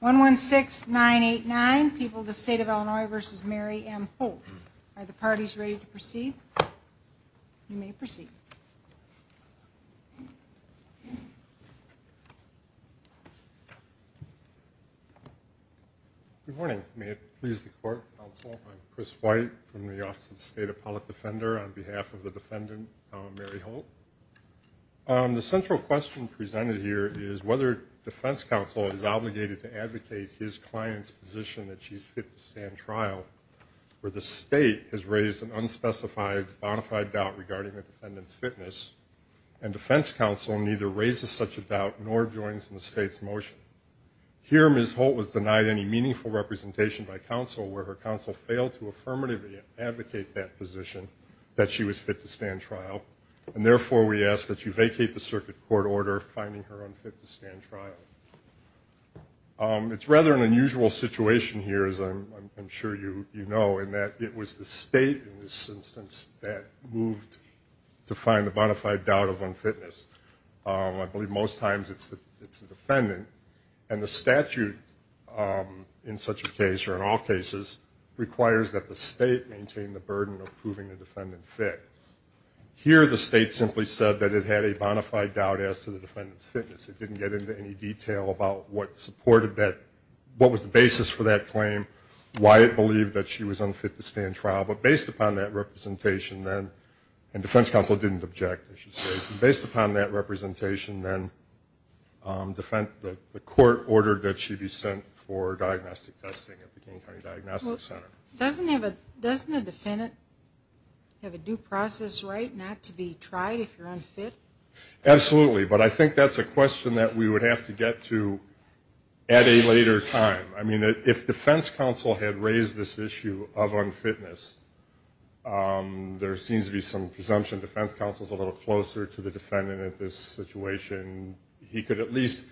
1 1 6 9 8 9 people the state of Illinois versus Mary M. Holt. Are the parties ready to proceed? You may proceed. Good morning. I'm Chris White from the Office of the State Appellate Defender on behalf of the defendant Mary Holt. The central question presented here is whether defense counsel is obligated to advocate his client's position that she's fit to stand trial where the state has raised an unspecified bonafide doubt regarding the defendant's fitness and defense counsel neither raises such a doubt nor joins in the state's motion. Here Ms. Holt was denied any meaningful representation by counsel where her counsel failed to affirmatively advocate that position that she was fit to stand trial and therefore we ask that you stand trial. It's rather an unusual situation here as I'm sure you know in that it was the state in this instance that moved to find the bonafide doubt of unfitness. I believe most times it's the defendant and the statute in such a case or in all cases requires that the state maintain the burden of proving the defendant fit. Here the state simply said that it had a bonafide doubt as to the any detail about what supported that what was the basis for that claim why it believed that she was unfit to stand trial but based upon that representation then and defense counsel didn't object I should say based upon that representation then the court ordered that she be sent for diagnostic testing at the King County Diagnostic Center. Doesn't a defendant have a due process right not to be tried if you're unfit? Absolutely but I think that's a question that we would have to get to at a later time. I mean that if defense counsel had raised this issue of unfitness there seems to be some presumption defense counsel is a little closer to the defendant at this situation. He could at least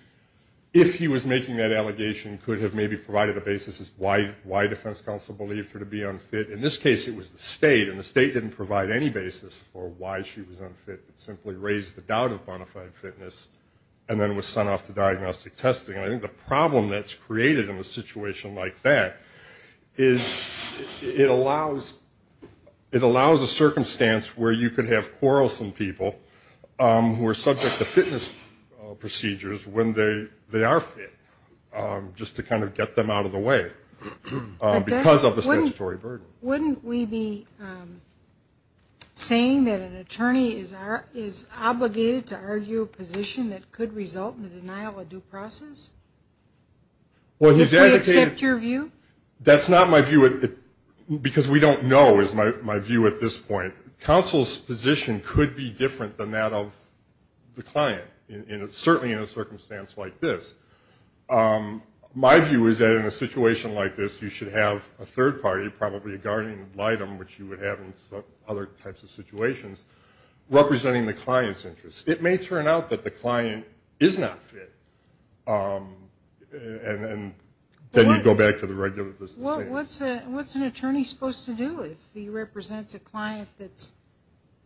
if he was making that allegation could have maybe provided a basis as why why defense counsel believed her to be unfit. In this case it was the state and the state didn't provide any basis for why she was simply raised the doubt of bonafide fitness and then was sent off to diagnostic testing. I think the problem that's created in a situation like that is it allows it allows a circumstance where you could have quarrelsome people who are subject to fitness procedures when they they are fit just to kind of get them out of the way because of the statutory burden. Wouldn't we be saying that an attorney is our is obligated to argue a position that could result in the denial of due process? Well he's going to accept your view? That's not my view it because we don't know is my view at this point. Counsel's position could be different than that of the client in it certainly in a circumstance like this. My view is that in a situation like this you should have a third party probably a which you would have in other types of situations representing the client's interest. It may turn out that the client is not fit and then you go back to the regular business. What's an attorney supposed to do if he represents a client that's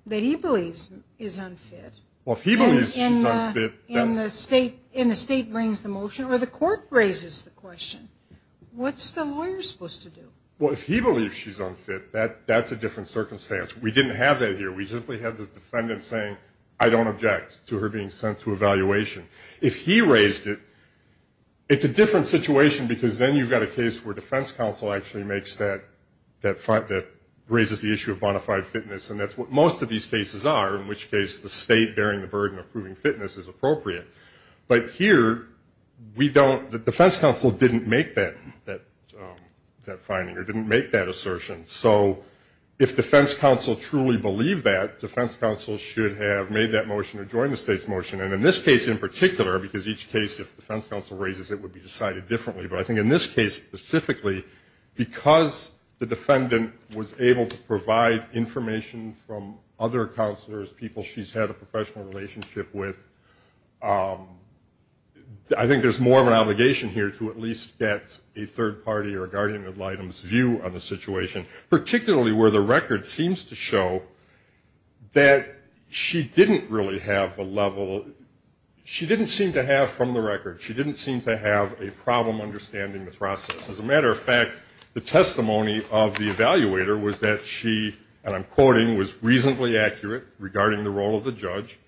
that he believes is unfit? Well if he believes she's unfit, then the state in the state brings the motion or the court raises the question what's the lawyer supposed to do? Well if he believes she's unfit that that's a different circumstance. We didn't have that here. We simply have the defendant saying I don't object to her being sent to evaluation. If he raised it, it's a different situation because then you've got a case where defense counsel actually makes that that raises the issue of bona fide fitness and that's what most of these cases are in which case the state bearing the burden of proving fitness is appropriate. But here we don't the defense counsel didn't make that that that finding or didn't make that assertion. So if defense counsel truly believe that defense counsel should have made that motion or join the state's motion and in this case in particular because each case if the defense counsel raises it would be decided differently but I think in this case specifically because the defendant was able to provide information from other counselors people she's had a relationship with I think there's more of an obligation here to at least get a third party or a guardian of items view on the situation particularly where the record seems to show that she didn't really have a level she didn't seem to have from the record she didn't seem to have a problem understanding the process as a matter of fact the testimony of the evaluator was that she and I'm quoting was reasonably accurate regarding the role of the judge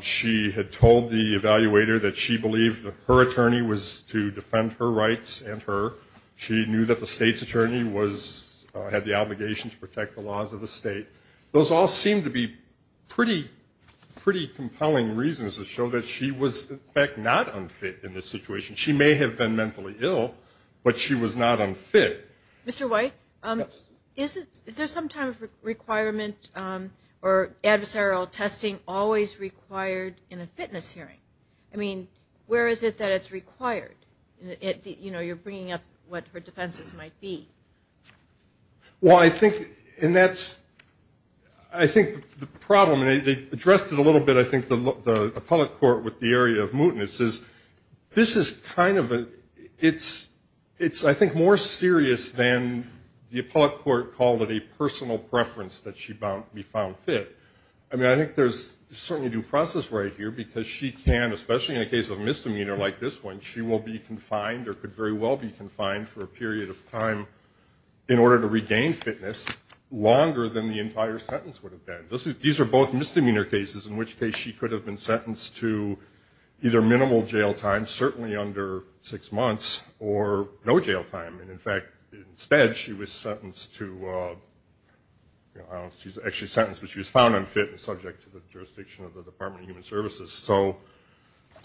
she had told the evaluator that she believed that her attorney was to defend her rights and her she knew that the state's attorney was had the obligation to protect the laws of the state those all seem to be pretty pretty compelling reasons to show that she was in fact not unfit in this situation she may have been mentally ill but she was not unfit Mr. White is it is there some time requirement or adversarial testing always required in a fitness hearing I mean where is it that it's required it you know you're bringing up what her defenses might be well I think and that's I think the problem they addressed it a little bit I think the look the appellate court with the area of mootness is this is kind of it's it's I think more serious than the appellate court called it a personal preference that she bound we found fit I mean I think there's certainly due process right here because she can especially in a case of misdemeanor like this one she will be confined or could very well be confined for a period of time in order to regain fitness longer than the entire sentence would have been this is these are both misdemeanor cases in which case she could have been certainly under six months or no jail time and in fact instead she was sentenced to she's actually sentenced but she was found unfit and subject to the jurisdiction of the Department of Human Services so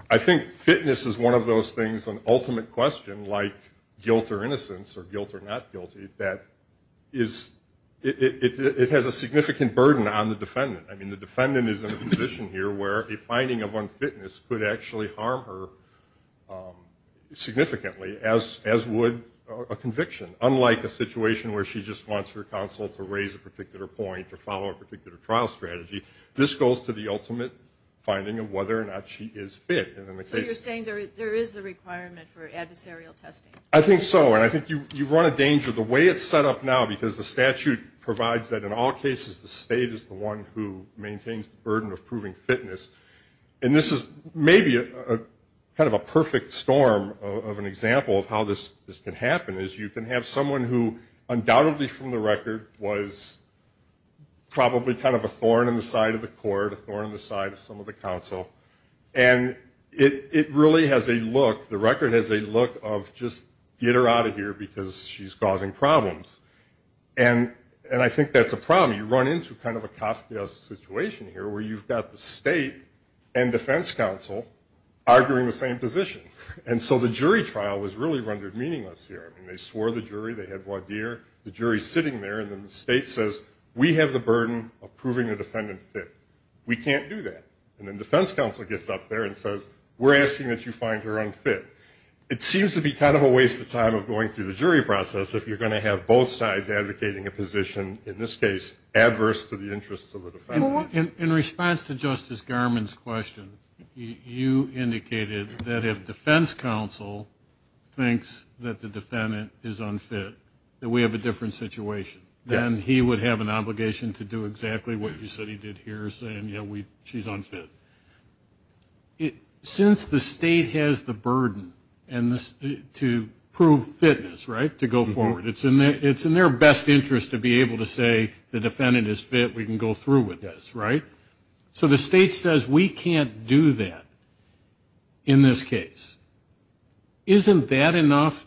I think fitness is one of those things an ultimate question like guilt or innocence or guilt or not guilty that is it has a significant burden on the defendant I mean the defendant is in a position here where a finding of unfitness could actually harm her significantly as as would a conviction unlike a situation where she just wants her counsel to raise a particular point to follow a particular trial strategy this goes to the ultimate finding of whether or not she is fit and in the case you're saying there is a requirement for adversarial testing I think so and I think you you've run a danger the way it's set up now because the statute provides that in all cases the state is the one who maintains the kind of a perfect storm of an example of how this this can happen is you can have someone who undoubtedly from the record was probably kind of a thorn in the side of the court or on the side of some of the council and it really has a look the record has a look of just get her out of here because she's causing problems and and I think that's a problem you run into kind of a and so the jury trial was really rendered meaningless here and they swore the jury they had one year the jury sitting there and then the state says we have the burden of proving the defendant fit we can't do that and then defense counsel gets up there and says we're asking that you find her unfit it seems to be kind of a waste of time of going through the jury process if you're going to have both sides advocating a position in this case adverse to the interests of that if defense counsel thinks that the defendant is unfit that we have a different situation then he would have an obligation to do exactly what you said he did here saying yeah we she's unfit it since the state has the burden and this to prove fitness right to go forward it's in there it's in their best interest to be able to say the defendant is fit we can go through with this right so the state says we can't do that in this case isn't that enough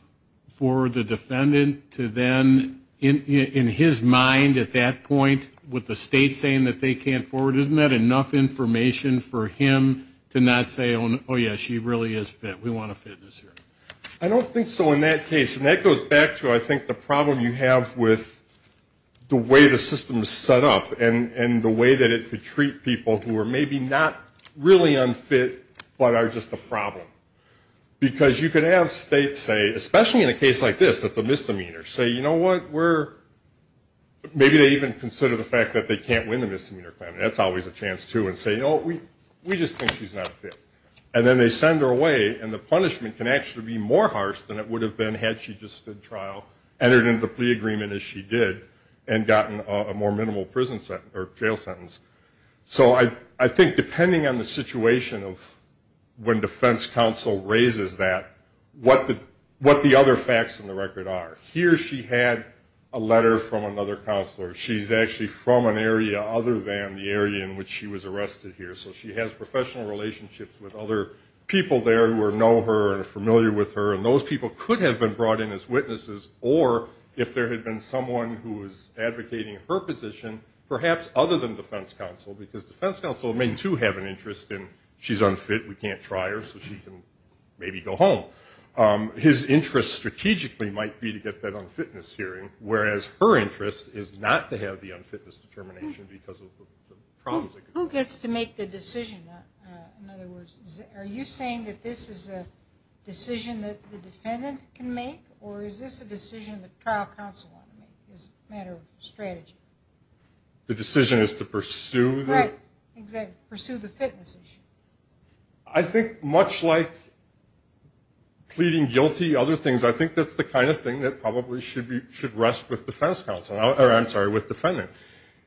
for the defendant to then in his mind at that point with the state saying that they can't forward isn't that enough information for him to not say oh yeah she really is fit we want to fit this here I don't think so in that case and that goes back to I think the problem you have with the way the system is set up and and the way that it could treat people who are maybe not really unfit but are just a problem because you could have states say especially in a case like this that's a misdemeanor say you know what we're maybe they even consider the fact that they can't win the misdemeanor plan that's always a chance to and say no we we just think she's not fit and then they send her away and the punishment can actually be more harsh than it would have been had she just stood trial entered into the plea agreement as she did and gotten a more minimal prison sentence or jail sentence so I I think depending on the situation of when defense counsel raises that what the what the other facts in the record are here she had a letter from another counselor she's actually from an area other than the area in which she was arrested here so she has professional relationships with other people there who are know her and familiar with her and those people could have been brought in as witnesses or if there had been someone who was advocating her position perhaps other than defense counsel because defense counsel may to have an interest in she's unfit we can't try her so she can maybe go home his interest strategically might be to get that unfitness hearing whereas her interest is not to have the unfitness determination because of the problems who gets to make the decision in other words are you saying that this is a decision that the defendant can make or is this a decision the trial counsel is matter of strategy the decision is to pursue the pursue the fitness issue I think much like pleading guilty other things I think that's the kind of thing that probably should be should rest with defense counsel I'm sorry with defendant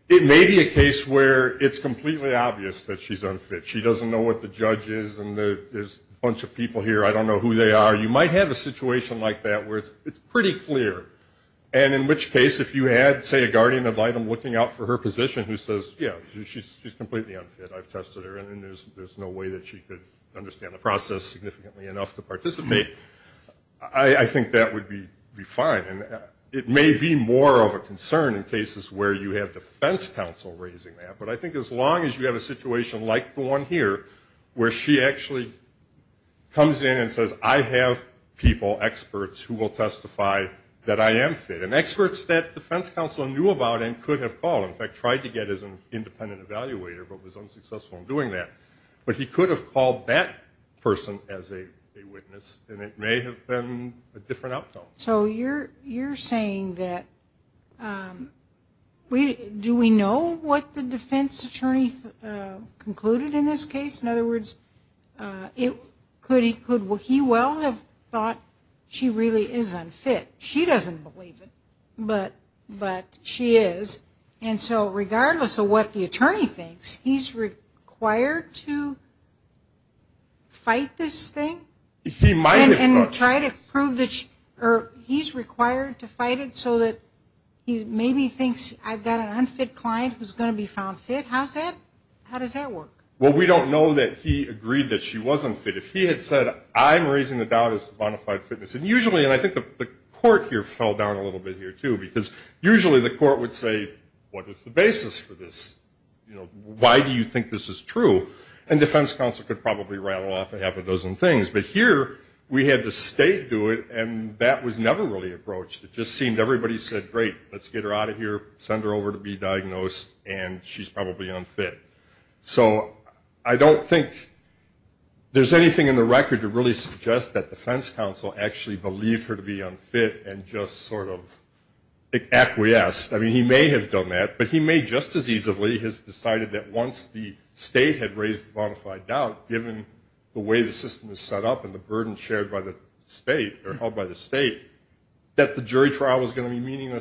it may be a case where it's completely obvious that she's unfit she doesn't know what the judge is and there's a bunch of people here I don't know who they are you might have a it's pretty clear and in which case if you had say a guardian of item looking out for her position who says yeah she's completely unfit I've tested her and there's there's no way that she could understand the process significantly enough to participate I think that would be be fine and it may be more of a concern in cases where you have defense counsel raising that but I think as long as you have a situation like the one here where she actually comes in and will testify that I am fit and experts that defense counsel knew about and could have called in fact tried to get as an independent evaluator but was unsuccessful in doing that but he could have called that person as a witness and it may have been a different outcome so you're you're saying that we do we know what the defense attorney concluded in this case in other words it could he well have thought she really is unfit she doesn't believe it but but she is and so regardless of what the attorney thinks he's required to fight this thing he might try to prove that or he's required to fight it so that he maybe thinks I've got an unfit client who's going to be found fit how's that how does that work well we don't know that he agreed that she wasn't fit if he had said I'm raising the doubt is bonafide fitness and usually and I think the court here fell down a little bit here too because usually the court would say what is the basis for this you know why do you think this is true and defense counsel could probably rattle off a half a dozen things but here we had the state do it and that was never really approached it just seemed everybody said great let's get her out of here send her over to be diagnosed and she's probably unfit so I don't think there's anything in the record to really suggest that defense counsel actually believed her to be unfit and just sort of acquiesced I mean he may have done that but he may just as easily has decided that once the state had raised bonafide doubt given the way the system is set up and the burden shared by the state or held by the state that the jury trial was going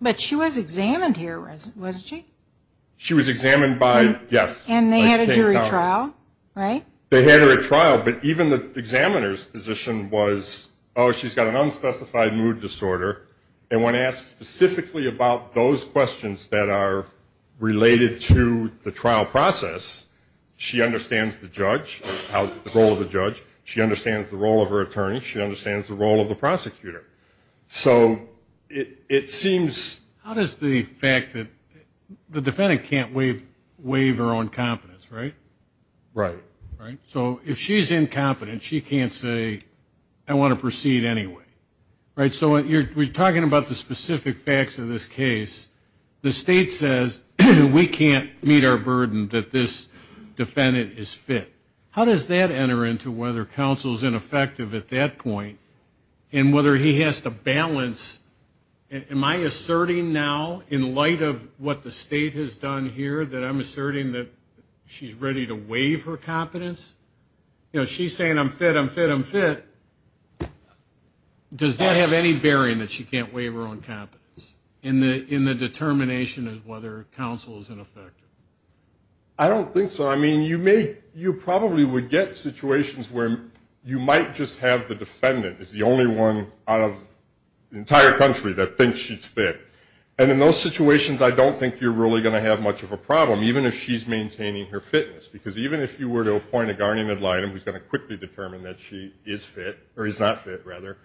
but she was examined here wasn't she she was examined by yes and they had a jury trial right they had her at trial but even the examiners position was oh she's got an unspecified mood disorder and when asked specifically about those questions that are related to the trial process she understands the judge how the role of the judge she understands the role of her attorney she understands the role of the prosecutor so it it seems how does the fact that the defendant can't waive waiver on competence right right right so if she's incompetent she can't say I want to proceed anyway right so what you're talking about the specific facts of this case the state says we can't meet our burden that this defendant is fit how does that enter into whether counsel's ineffective at that point and whether he has to balance am I asserting now in light of what the state has done here that I'm asserting that she's ready to waive her competence you know she's saying I'm fit I'm fit I'm fit does that have any bearing that she can't waive her own competence in the in the determination of whether counsel is ineffective I don't think so I mean you may you probably would get situations where you might just have the defendant is the only one out of the entire country that thinks she's fit and in those situations I don't think you're really going to have much of a problem even if she's maintaining her fitness because even if you were to appoint a guardian ad litem who's going to quickly determine that she is fit or he's not fit rather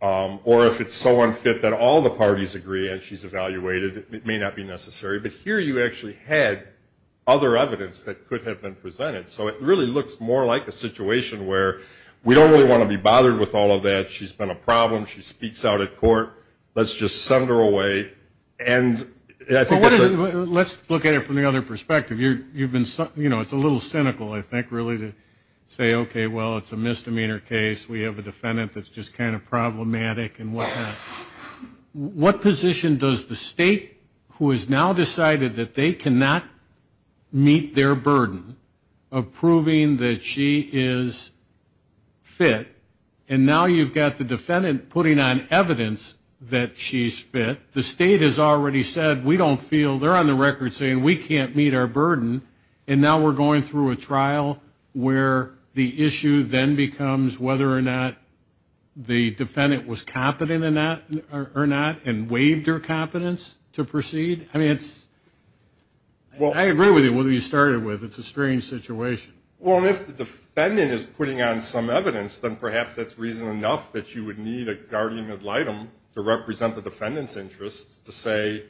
or if it's so unfit that all the parties agree and she's evaluated it may not be necessary but here you actually had other evidence that could have been presented so it really looks more like a situation where we don't really want to be bothered with all of that she's been a problem she speaks out at court let's just send her away and let's look at it from the other perspective you you've been something you know it's a little cynical I think really to say okay well it's a misdemeanor case we have a defendant that's just kind of problematic and what what position does the state who has now decided that they cannot meet their burden of proving that she is fit and now you've got the defendant putting on evidence that she's fit the state has already said we don't feel they're on the record saying we can't meet our burden and now we're going through a trial where the issue then becomes whether or not the defendant was competent in that or not and waived her to proceed I mean it's well I agree with you whether you started with it's a strange situation well if the defendant is putting on some evidence then perhaps that's reason enough that you would need a guardian ad litem to represent the defendant's interests to say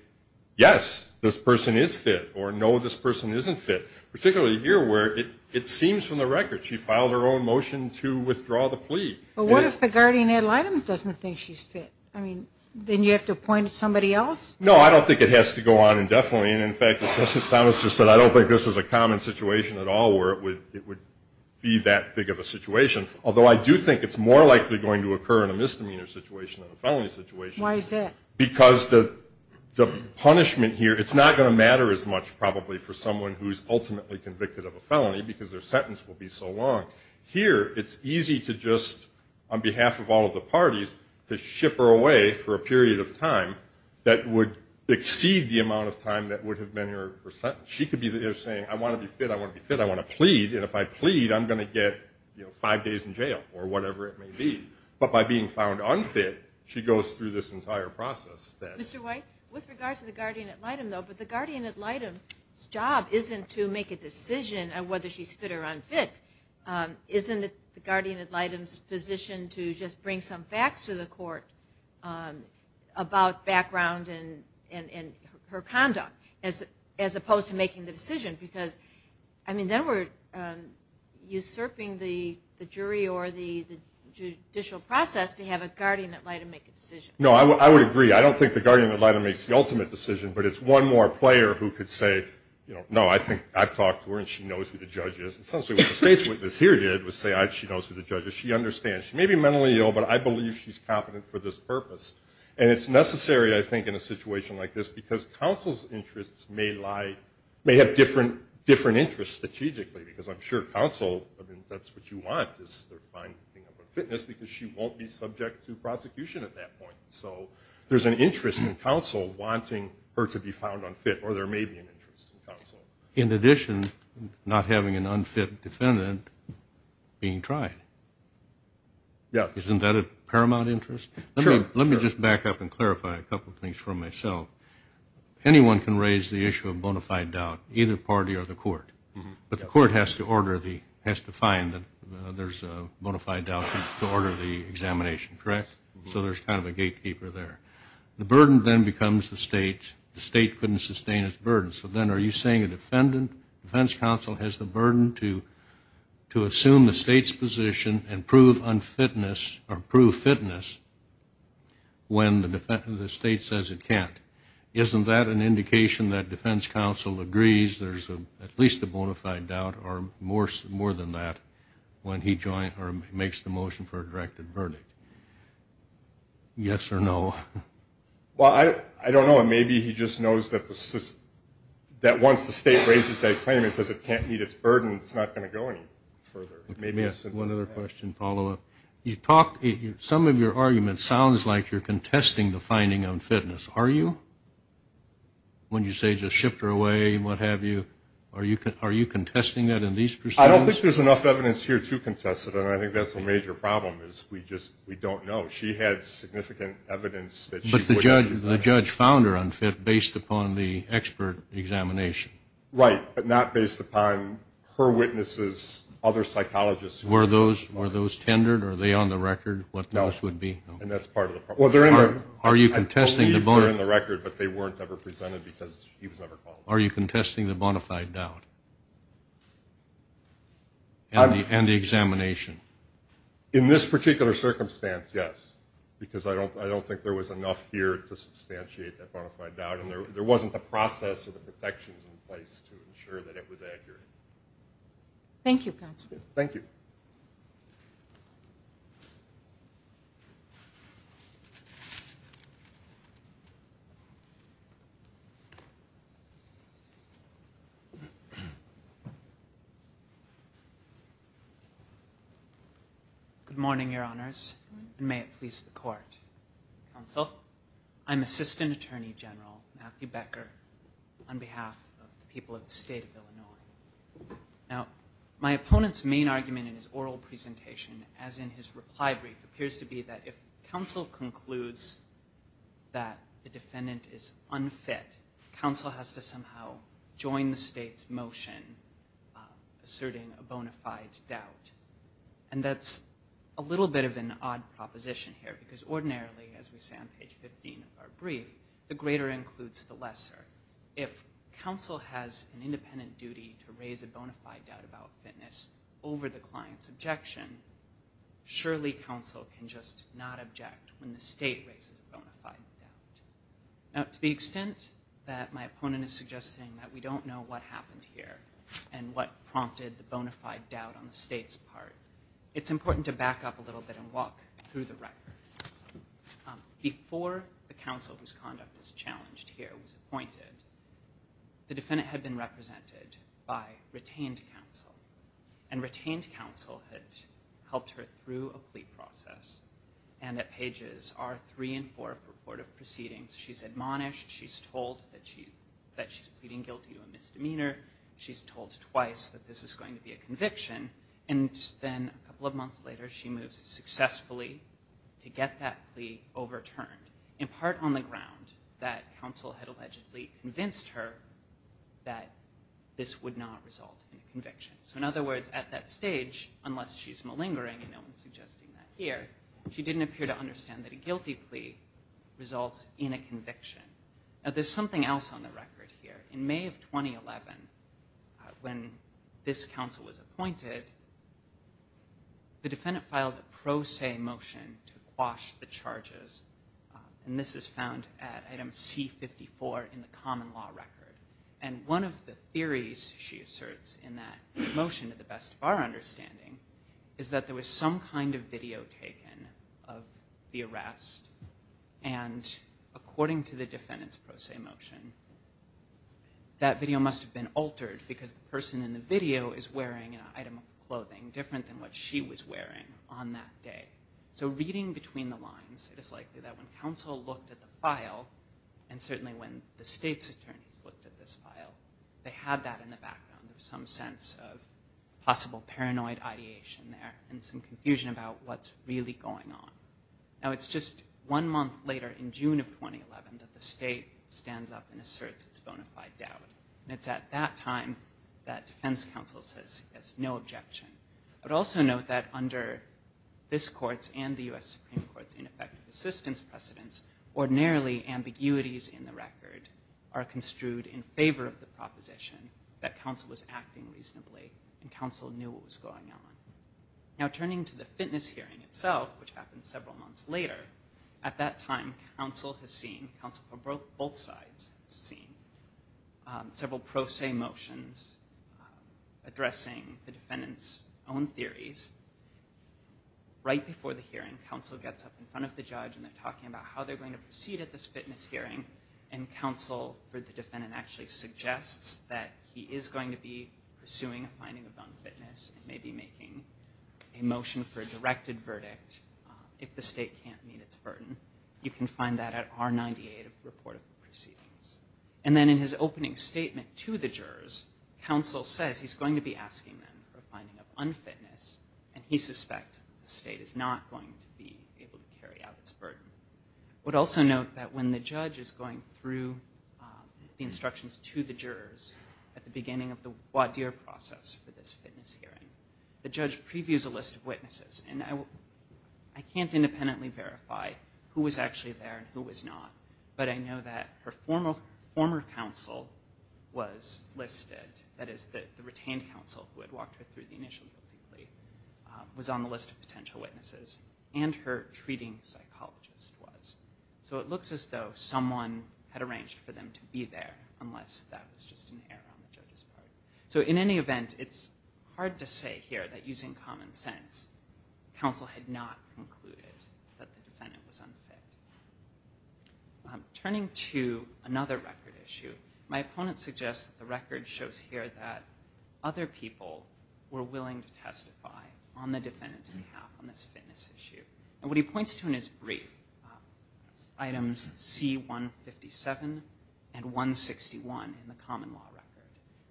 yes this person is fit or no this person isn't fit particularly here where it it seems from the record she filed her own motion to withdraw the plea well what if the guardian ad litem doesn't think she's I mean then you have to point to somebody else no I don't think it has to go on indefinitely and in fact this is Thomas just said I don't think this is a common situation at all where it would it would be that big of a situation although I do think it's more likely going to occur in a misdemeanor situation in a felony situation why is it because the the punishment here it's not going to matter as much probably for someone who's ultimately convicted of a felony because their sentence will be so long here it's easy to just on behalf of all of the parties to ship her away for a period of time that would exceed the amount of time that would have been her percent she could be there saying I want to be fit I want to be fit I want to plead and if I plead I'm gonna get you know five days in jail or whatever it may be but by being found unfit she goes through this entire process with regards to the guardian ad litem though but the guardian ad litem job isn't to make a decision on whether she's fit or unfit isn't it the guardian ad litem's position to just bring some facts to the court about background and and her conduct as as opposed to making the decision because I mean then we're usurping the the jury or the judicial process to have a guardian ad litem make a decision no I would agree I don't think the guardian ad litem makes the ultimate decision but it's one more player who could say you know no I think I've talked to her and she knows who the judges she understands she may be mentally ill but I believe she's competent for this purpose and it's necessary I think in a situation like this because counsel's interests may lie may have different different interests strategically because I'm sure counsel that's what you want is fitness because she won't be subject to prosecution at that point so there's an interest in counsel wanting her to be found unfit or there may be an interest in counsel in addition not having an unfit defendant being tried yeah isn't that a paramount interest let me just back up and clarify a couple things for myself anyone can raise the issue of bona fide doubt either party or the court but the court has to order the has to find that there's a bona fide doubt to order the examination correct so there's kind of a gatekeeper there the burden then becomes the state the state couldn't sustain its burden so then are you saying a defense counsel has the burden to to assume the state's position and prove unfitness or prove fitness when the defense of the state says it can't isn't that an indication that defense counsel agrees there's a at least a bona fide doubt or more more than that when he joined or makes the motion for a directed verdict yes or no well I I don't know maybe he just knows that the that once the state raises that claim it says it can't meet its burden it's not going to go any further maybe one other question follow-up you talk some of your arguments sounds like you're contesting the finding on fitness are you when you say just shift her away what have you are you can are you contesting that in these I don't think there's enough evidence here to contest it and I think that's a major problem is we just we don't know she had significant evidence judge found her unfit based upon the expert examination right but not based upon her witnesses other psychologists were those were those tendered are they on the record what else would be and that's part of it well they're in there are you contesting the bone in the record but they weren't ever presented because are you contesting the bona fide doubt and the examination in this particular circumstance yes because I don't I don't think there was enough here to substantiate that bona fide doubt and there wasn't the process of the protections in place to ensure that it was accurate thank you council thank you you good morning your honors may it please the court so I'm assistant attorney general Matthew Becker on behalf of the people of the state of Illinois now my opponent's main argument in his oral presentation as in his reply brief appears to be that if counsel concludes that the defendant is unfit counsel has to somehow join the state's motion asserting a bona fide doubt and that's a little bit of an odd proposition here because ordinarily as we say on page 15 of our brief the greater includes the lesser if counsel has an independent duty to raise a bona fide doubt about fitness over the client's objection surely counsel can just not object when the state raises a bona fide now to the extent that my opponent is suggesting that we don't know what happened here and what prompted the bona fide doubt on the state's part it's important to back up a little bit and walk through the record before the council whose conduct is challenged here was appointed the defendant had been represented by retained counsel helped her through a plea process and that pages are three and four purported proceedings she's admonished she's told that she that she's pleading guilty to a misdemeanor she's told twice that this is going to be a conviction and then a couple of months later she moves successfully to get that plea overturned in part on the ground that counsel had allegedly convinced her that this would not result in a conviction so in other words at that stage unless she's malingering and no one's suggesting that here she didn't appear to understand that a guilty plea results in a conviction now there's something else on the record here in May of 2011 when this council was appointed the defendant filed a pro se motion to quash the charges and this is at item c54 in the common law record and one of the theories she asserts in that motion to the best of our understanding is that there was some kind of video taken of the arrest and according to the defendants pro se motion that video must have been altered because the person in the video is wearing an item of clothing different than what she was wearing on that day so reading between the lines it is likely that when counsel looked at the file and certainly when the state's attorneys looked at this file they had that in the background of some sense of possible paranoid ideation there and some confusion about what's really going on now it's just one month later in June of 2011 that the state stands up and asserts its bona fide doubt and it's at that time that defense counsel says yes no objection but also note that under this courts and the US Supreme Court's ineffective assistance precedents ordinarily ambiguities in the record are construed in favor of the proposition that counsel was acting reasonably and counsel knew what was going on now turning to the fitness hearing itself which happened several months later at that time counsel has seen counsel for both sides seen several pro se motions addressing the defendants own theories right before the hearing counsel gets up in front of the judge and they're talking about how they're going to proceed at this fitness hearing and counsel for the defendant actually suggests that he is going to be pursuing a finding of non-fitness and maybe making a motion for a directed verdict if the state can't meet its burden you can find that at our 98 report of proceedings and then in his opening statement to the jurors counsel says he's going to be asking them for finding of unfitness and he suspects the state is not going to be able to carry out its burden would also note that when the judge is going through the instructions to the jurors at the beginning of the what dear process for this fitness hearing the judge previews a list of witnesses and I will I can't independently verify who was actually there and who was not but I know that her former former counsel was listed that is that the retained counsel who had walked her through the initial plea was on the list of potential witnesses and her treating psychologist was so it looks as though someone had arranged for them to be there unless that was just an error so in any event it's hard to say here that using common sense counsel had not concluded that the defendant was another record issue my opponent suggests the record shows here that other people were willing to testify on the defendant's behalf on this fitness issue and what he points to in his brief items c157 and 161 in the common law record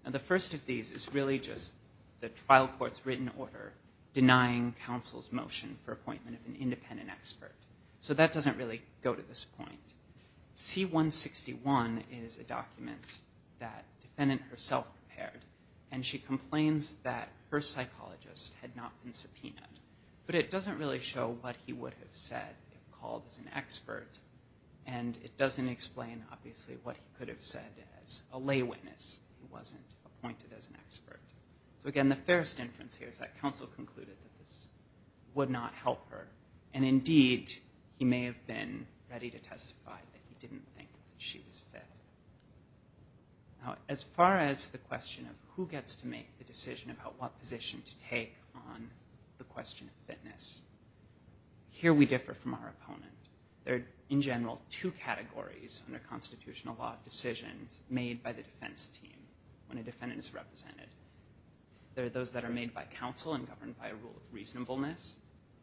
and the first of these is really just the trial courts written order denying counsel's motion for appointment of an independent expert so that doesn't really go to this point c161 is a document that defendant herself prepared and she complains that her psychologist had not been subpoenaed but it doesn't really show what he would have said called as an expert and it doesn't explain obviously what he could have said as a lay witness wasn't appointed as an expert so again the first inference here is that counsel concluded would not help her and indeed he may have been ready to testify that he didn't think she was fit now as far as the question of who gets to make the decision about what position to take on the question of fitness here we differ from our opponent there in general two categories under constitutional law decisions made by the defense team when a defendant is represented there are those that are made by counsel and governed by a rule of reasonableness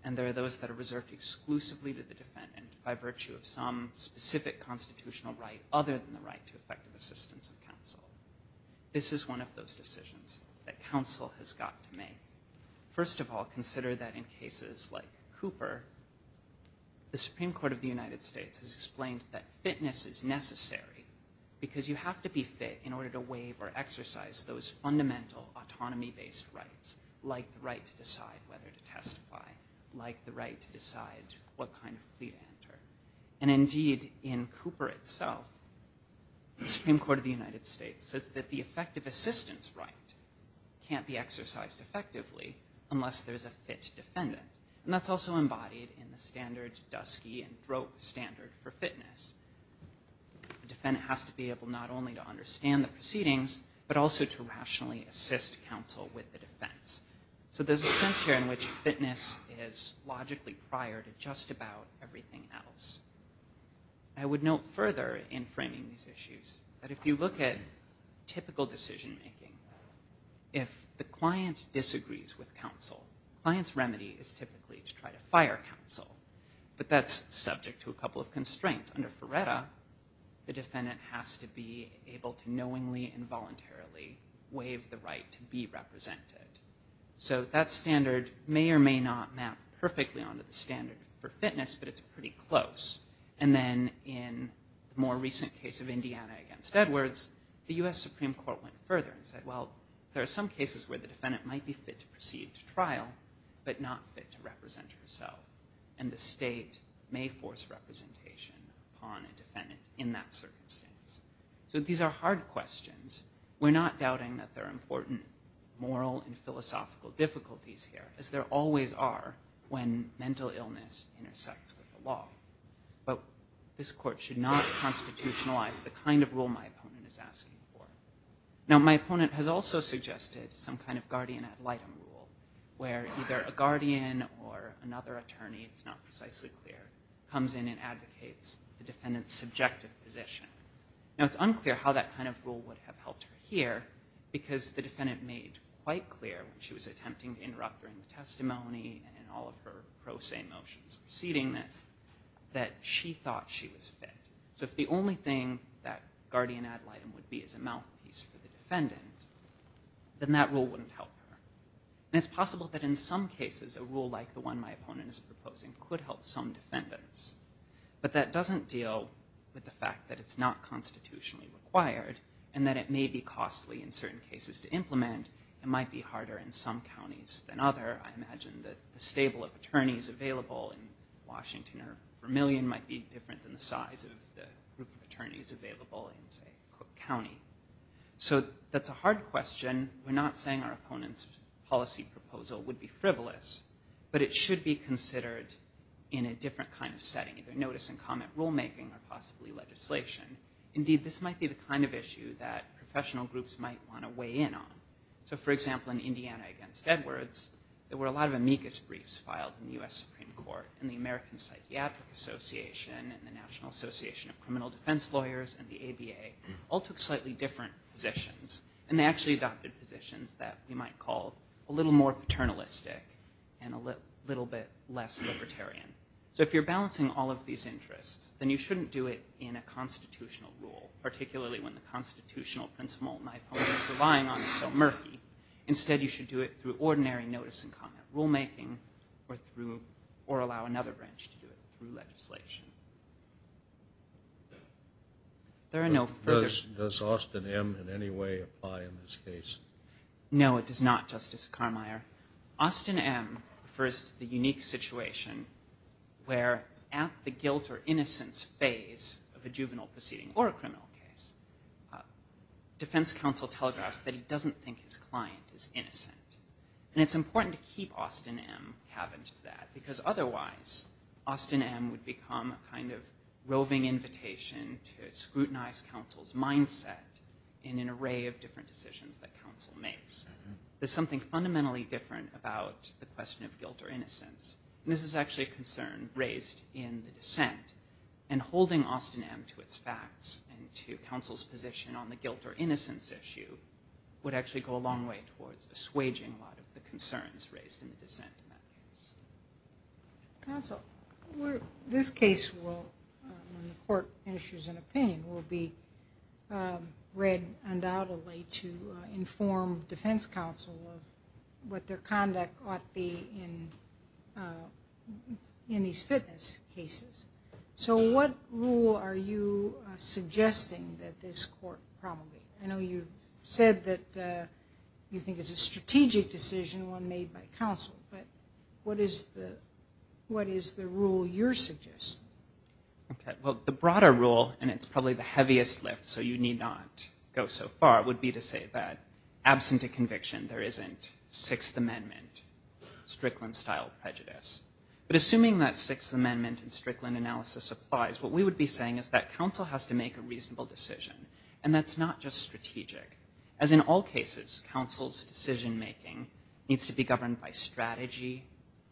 and there are those that are reserved exclusively to the defendant by virtue of some specific constitutional right other than the right to effective assistance of counsel this is one of those decisions that counsel has got to make first of all consider that in cases like Cooper the Supreme Court of the United States has explained that fitness is necessary because you have to be fit in order to waive or exercise those fundamental autonomy based rights like the right to decide whether to testify like the right to decide what kind of plea to enter and indeed in Cooper itself the Supreme Court of the United States says that the effective assistance right can't be exercised effectively unless there's a fit defendant and that's also embodied in the standard dusky and drope standard for fitness the defendant has to be able not only to understand the proceedings but also to rationally assist counsel with the defense so there's a sense here in which fitness is logically prior to just about everything else I would note further in framing these issues that if you look at typical decision-making if the client disagrees with counsel clients remedy is typically to try to fire counsel but that's subject to a the defendant has to be able to knowingly involuntarily waive the right to be represented so that standard may or may not map perfectly onto the standard for fitness but it's pretty close and then in more recent case of Indiana against Edwards the US Supreme Court went further and said well there are some cases where the defendant might be fit to proceed to trial but not fit to represent herself and the state may force representation on a defendant in that circumstance so these are hard questions we're not doubting that they're important moral and philosophical difficulties here as there always are when mental illness intersects with the law but this court should not constitutionalize the kind of rule my opponent is asking for now my opponent has also suggested some kind of guardian ad litem rule where either a guardian or another attorney it's not precisely clear comes in and advocates the defendant's subjective position now it's unclear how that kind of rule would have helped her here because the defendant made quite clear she was attempting to interrupt during the testimony and all of her pro se motions proceeding this that she thought she was fit so if the only thing that guardian ad litem would be as a mouthpiece for the defendant then that rule wouldn't help her and it's possible that in some cases a rule like the one my opponent is proposing could help some defendants but that doesn't deal with the fact that it's not constitutionally required and that it may be costly in certain cases to implement it might be harder in some counties than other I imagine that the stable of attorneys available in Washington or Vermillion might be different than the size of the group of attorneys available in say Cook County so that's a hard question we're not saying our opponents policy proposal would be frivolous but it should be considered in a different kind of setting either notice and comment rulemaking or possibly legislation indeed this might be the kind of issue that professional groups might want to weigh in on so for example in Indiana against Edwards there were a lot of amicus briefs filed in the Supreme Court and the American Psychiatric Association and the National Association of Criminal Defense Lawyers and the ABA all took slightly different positions and they actually adopted positions that you might call a little more paternalistic and a little bit less libertarian so if you're balancing all of these interests then you shouldn't do it in a constitutional rule particularly when the constitutional principle my point is relying on so murky instead you should do it through ordinary notice and comment rulemaking or through or allow another branch to do it through legislation there are no first does Austin M in any way apply in this case no it does not justice Carmier Austin M first the unique situation where at the guilt or innocence phase of a juvenile proceeding or a criminal case defense counsel telegraphs that he doesn't think his client is innocent and it's important to that because otherwise Austin M would become a kind of roving invitation to scrutinize counsel's mindset in an array of different decisions that counsel makes there's something fundamentally different about the question of guilt or innocence this is actually a concern raised in the dissent and holding Austin M to its facts and to counsel's position on the guilt or innocence issue would actually go a long way towards assuaging a lot of the concerns raised in the this case will court issues an opinion will be read undoubtedly to inform defense counsel what their conduct ought be in in these fitness cases so what rule are you suggesting that this court probably I know you said that you think it's a strategic decision one made by counsel but what is the what is the rule you're suggesting okay well the broader rule and it's probably the heaviest lift so you need not go so far would be to say that absent a conviction there isn't Sixth Amendment Strickland style prejudice but assuming that Sixth Amendment and Strickland analysis applies what we would be saying is that counsel has to make a reasonable decision and that's not just strategic as in all cases counsel's decision-making needs to be governed by strategy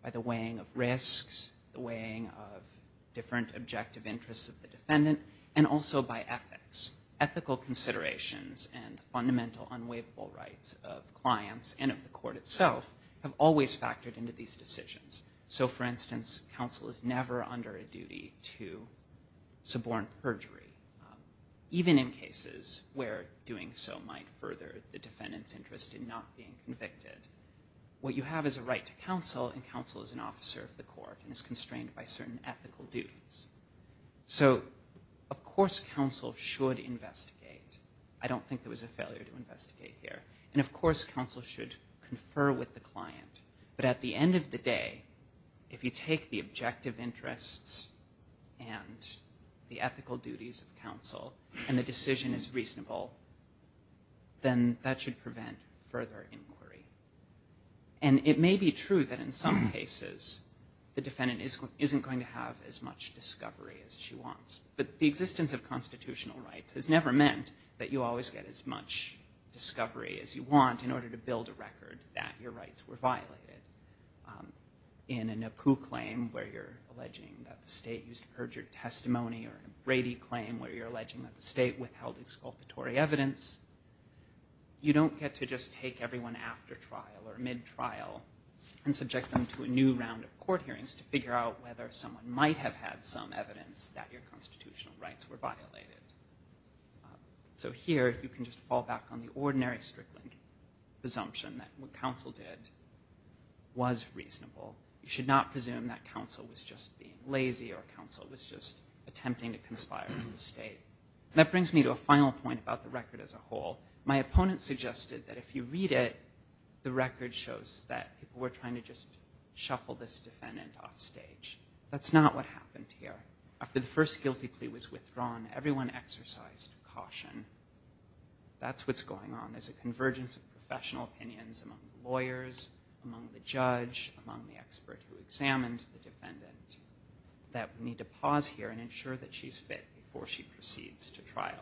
by the weighing of risks the weighing of different objective interests of the defendant and also by ethics ethical considerations and fundamental unwaverable rights of clients and of the court itself have always factored into these decisions so for instance counsel is never under a duty to suborn perjury even in cases where doing so might further the defendant's interest in not being convicted what you have is a right to counsel and counsel is an officer of the court and is constrained by certain ethical duties so of course counsel should investigate I don't think there was a failure to investigate here and of course counsel should confer with the client but at the end of the day if you take the objective interests and the ethical duties of counsel and the decision is reasonable then that should prevent further inquiry and it may be true that in some cases the defendant is isn't going to have as much discovery as she wants but the existence of constitutional rights has never meant that you always get as much discovery as you want in order to build a record that your rights were violated in a NAPU claim where you're alleging that the state used perjured testimony or a Brady claim where you're alleging that the state withheld exculpatory evidence you don't get to just take everyone after trial or mid trial and subject them to a new round of court hearings to figure out whether someone might have had some evidence that your constitutional rights were violated so here you can just fall back on the ordinary Strickland presumption that what counsel did was reasonable you should not presume that counsel was just being lazy or counsel was just attempting to conspire in the state that brings me to a final point about the record as a whole my opponent suggested that if you read it the record shows that people were trying to just shuffle this defendant offstage that's not what happened here after the first guilty plea was withdrawn everyone exercised caution that's what's going on there's a convergence of professional opinions among lawyers among the judge among the expert who examined the defendant that we need to pause here and ensure that she's fit before she proceeds to trial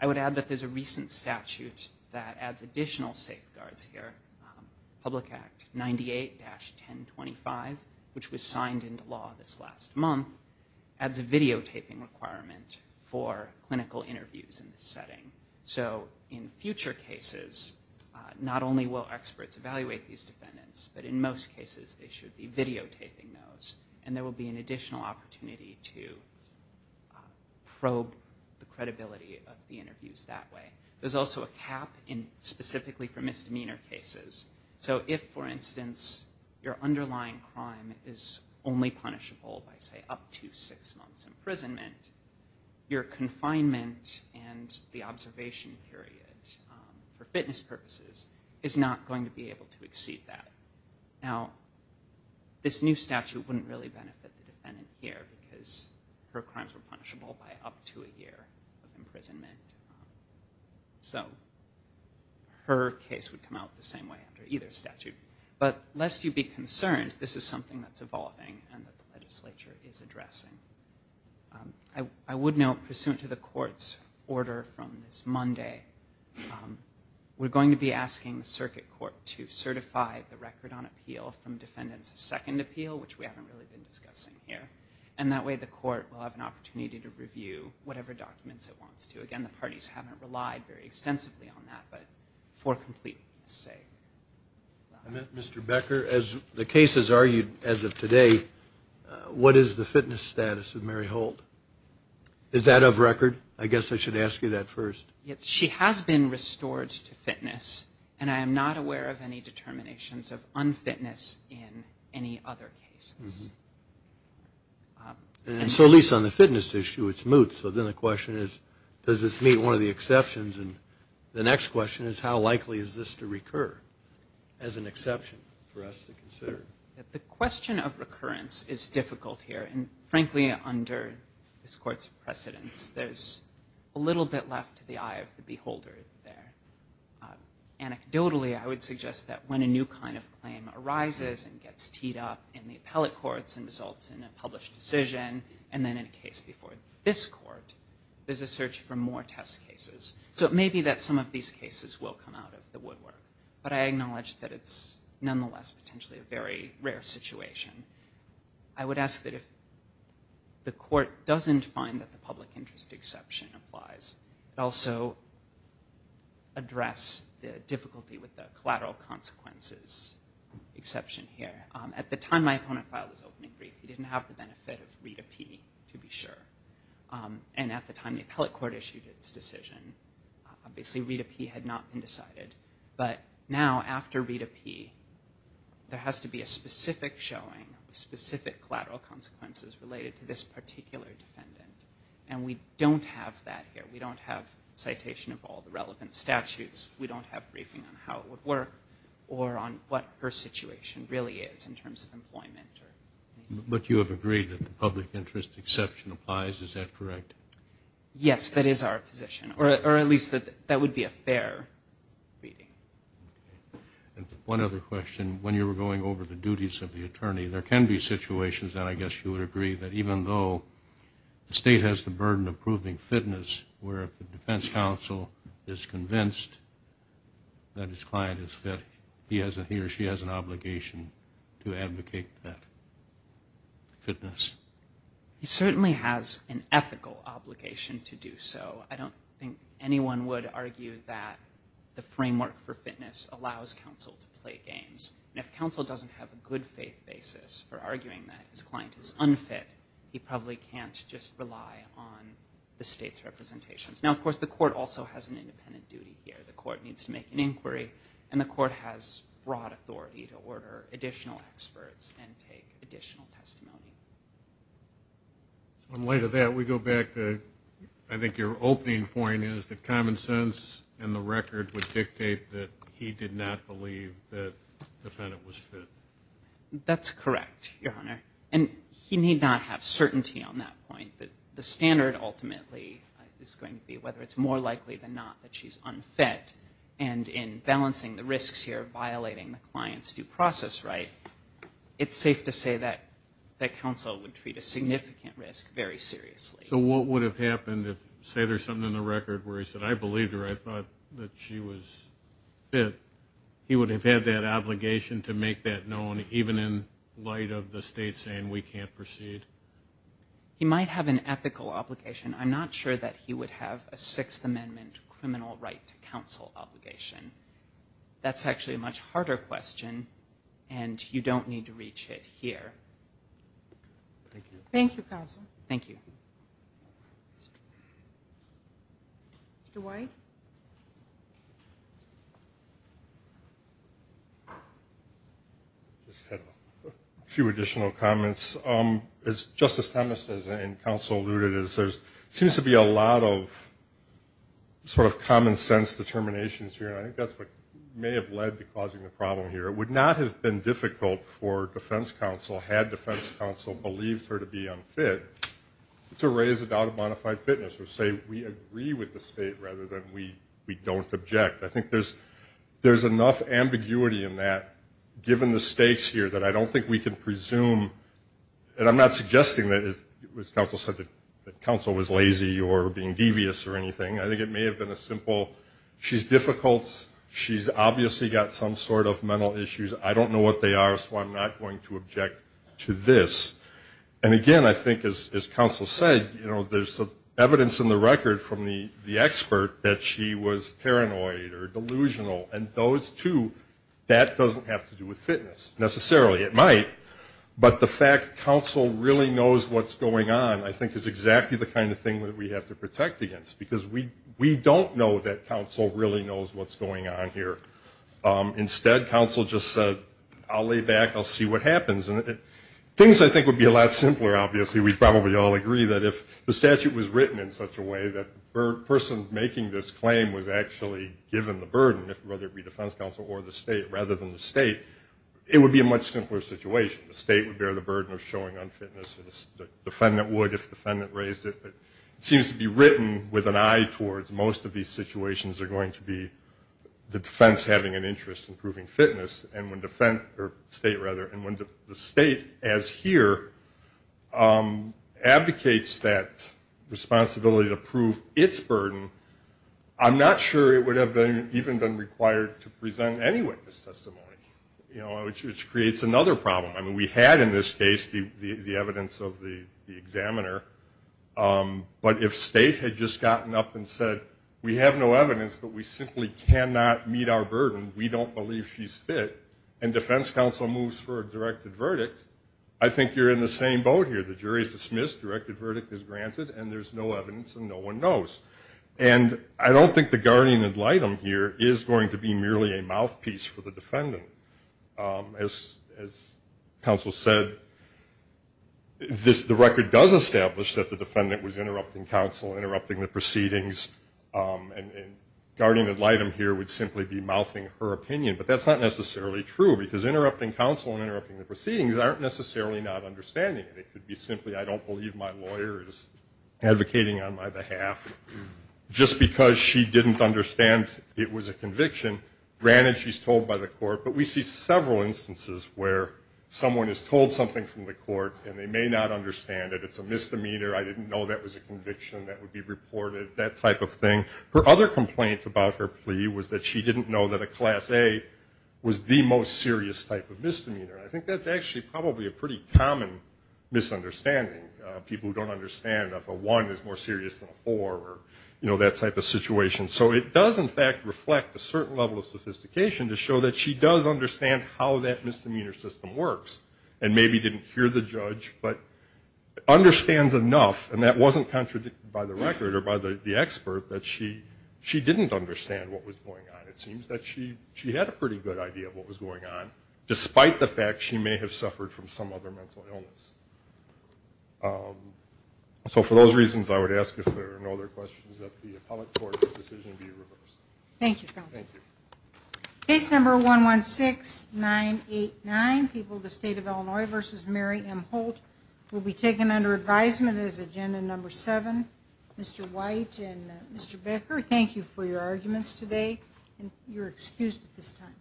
I would add that there's a recent statute that adds additional safeguards here public act 98 dash 1025 which was signed into law this last month adds a videotaping requirement for clinical interviews in this setting so in future cases not only will experts evaluate these defendants but in most cases they should be videotaping those and there will be an additional opportunity to probe the credibility of the interviews that way there's also a cap in specifically for misdemeanor cases so if for instance your underlying crime is only punishable by say up to six months imprisonment your confinement and the observation period for fitness purposes is not going to be able to exceed that now this new statute wouldn't really benefit the defendant here because her crimes were punishable by up to a year of imprisonment so her case would come out the same way under either statute but lest you be concerned this is something that's evolving and the legislature is addressing I would note pursuant to the court's order from this Monday we're going to be asking the circuit court to certify the record on appeal from defendants a second appeal which we haven't really been discussing here and that way the court will have an opportunity to review whatever documents it wants to again the parties haven't relied very extensively on that but for complete say mr. Becker as the case is argued as of today what is the fitness status of Mary Holt is that of record I guess I should ask you that first yet she has been restored to fitness and I am not aware of any determinations of unfitness in any other case so least on the fitness issue it's moot so then the question is does this meet one of the exceptions and the next question is how likely is this to recur as an exception the question of recurrence is difficult here and frankly under this court's precedents there's a little bit left to the eye of the beholder there anecdotally I would suggest that when a new kind of claim arises and gets teed up in the appellate courts and results in a published decision and then in a case before this court there's a search for more test cases so it may be that some of these cases will come out of the woodwork but I acknowledge that it's nonetheless potentially a very rare situation I would ask that if the court doesn't find that the public interest exception applies it also address the difficulty with the collateral consequences exception here at the time my opponent filed his opening brief he didn't have the benefit of read a P to be sure and at the time the appellate court issued its decision obviously read a P had not been decided but now after read a P there has to be a specific showing specific collateral consequences related to this particular defendant and we don't have that here we don't have citation of all the relevant statutes we don't have briefing on how it would work or on what her situation really is in terms of employment but you have agreed that the public interest exception applies is that correct yes that is our position or at least that that would be a fair reading and one other question when you were going over the duties of the attorney there can be situations that I guess you would agree that even though the state has the burden of proving fitness where the defense counsel is convinced that his client is that he hasn't he or she has an obligation to advocate that fitness he certainly has an ethical obligation to do so I don't think anyone would argue that the framework for fitness allows counsel to play games if counsel doesn't have a good faith basis for arguing that his client is unfit he probably can't just rely on the state's representations now of course the court also has an independent duty here the court needs to make an inquiry and the court has broad authority to order additional experts additional testimony later that we go back to I think your opening point is that common sense and the record would dictate that he did not believe that defendant was fit that's correct your honor and he need not have certainty on that point that the standard ultimately is going to be whether it's more likely than not that she's unfit and in balancing the risks here violating the process right it's safe to say that that counsel would treat a significant risk very seriously so what would have happened if say there's something in the record where he said I believed her I thought that she was fit he would have had that obligation to make that known even in light of the state saying we can't proceed he might have an ethical obligation I'm not sure that he would have a Sixth Amendment criminal right to counsel obligation that's actually a much harder question and you don't need to reach it here thank you thank you counsel thank you Dwight just had a few additional comments as justice Thomas's and counsel alluded is there's seems to be a lot of sort of common-sense determinations here I think that's what may have led to causing the problem here it would not have been difficult for defense counsel had defense counsel believed her to be unfit to raise a doubt of modified fitness or say we agree with the state rather than we we don't object I think there's there's enough ambiguity in that given the stakes here that I don't think we can presume and I'm not suggesting that is it was counsel said that counsel was lazy or being devious or anything I think it may have been a simple she's difficult she's obviously got some sort of mental issues I don't know what they are so I'm not going to object to this and again I think as counsel said you know there's some evidence in the record from the the expert that she was paranoid or delusional and those two that doesn't have to do with fitness necessarily it might but the fact counsel really knows what's going on I think is exactly the kind of thing that we have to protect against because we we don't know that counsel really knows what's going on here instead counsel just said I'll lay back I'll see what happens and things I think would be a lot simpler obviously we probably all agree that if the statute was written in such a way that person making this claim was actually given the burden if whether it be defense counsel or the state rather than the state it would be a much simpler situation the state would bear the burden of showing unfitness the defendant would if defendant raised it seems to be written with an eye towards most of these situations are going to be the defense having an interest in proving fitness and when defense or state rather and when the state as here advocates that responsibility to prove its burden I'm not sure it would have been even been required to present any witness testimony you know which creates another problem I mean we had in this case the evidence of the examiner but if state had just gotten up and said we have no evidence but we simply cannot meet our burden we don't believe she's fit and defense counsel moves for a directed verdict I think you're in the same boat here the jury's dismissed directed verdict is granted and there's no evidence and no one knows and I don't think the guardian ad litem here is going to be merely a mouthpiece for the defendant as counsel said this the record does establish that the defendant was interrupting counsel interrupting the proceedings and guardian ad litem here would simply be mouthing her opinion but that's not necessarily true because interrupting counsel and interrupting the proceedings aren't necessarily not understanding it could be simply I don't believe my lawyers advocating on my behalf just because she didn't understand it was a conviction granted she's told by the court but we see several instances where someone is told something from the court and they may not understand it it's a misdemeanor I didn't know that was a conviction that would be reported that type of thing her other complaint about her plea was that she didn't know that a class a was the most serious type of misdemeanor I think that's actually probably a pretty common misunderstanding people who don't understand if a one is more serious than or you know that type of situation so it does in fact reflect a certain level of sophistication to show that she does understand how that misdemeanor system works and maybe didn't hear the judge but understands enough and that wasn't contradicted by the record or by the expert that she she didn't understand what was going on it seems that she she had a pretty good idea of what was going on despite the fact she may have suffered from some other mental illness so for those reasons I would ask if there are no other questions that the appellate court decision be reversed. Thank you counsel. Case number one one six nine eight nine people the state of Illinois versus Mary M Holt will be taken under advisement as agenda number seven. Mr. White and Mr. Becker thank you for your arguments today and you're excused at this time.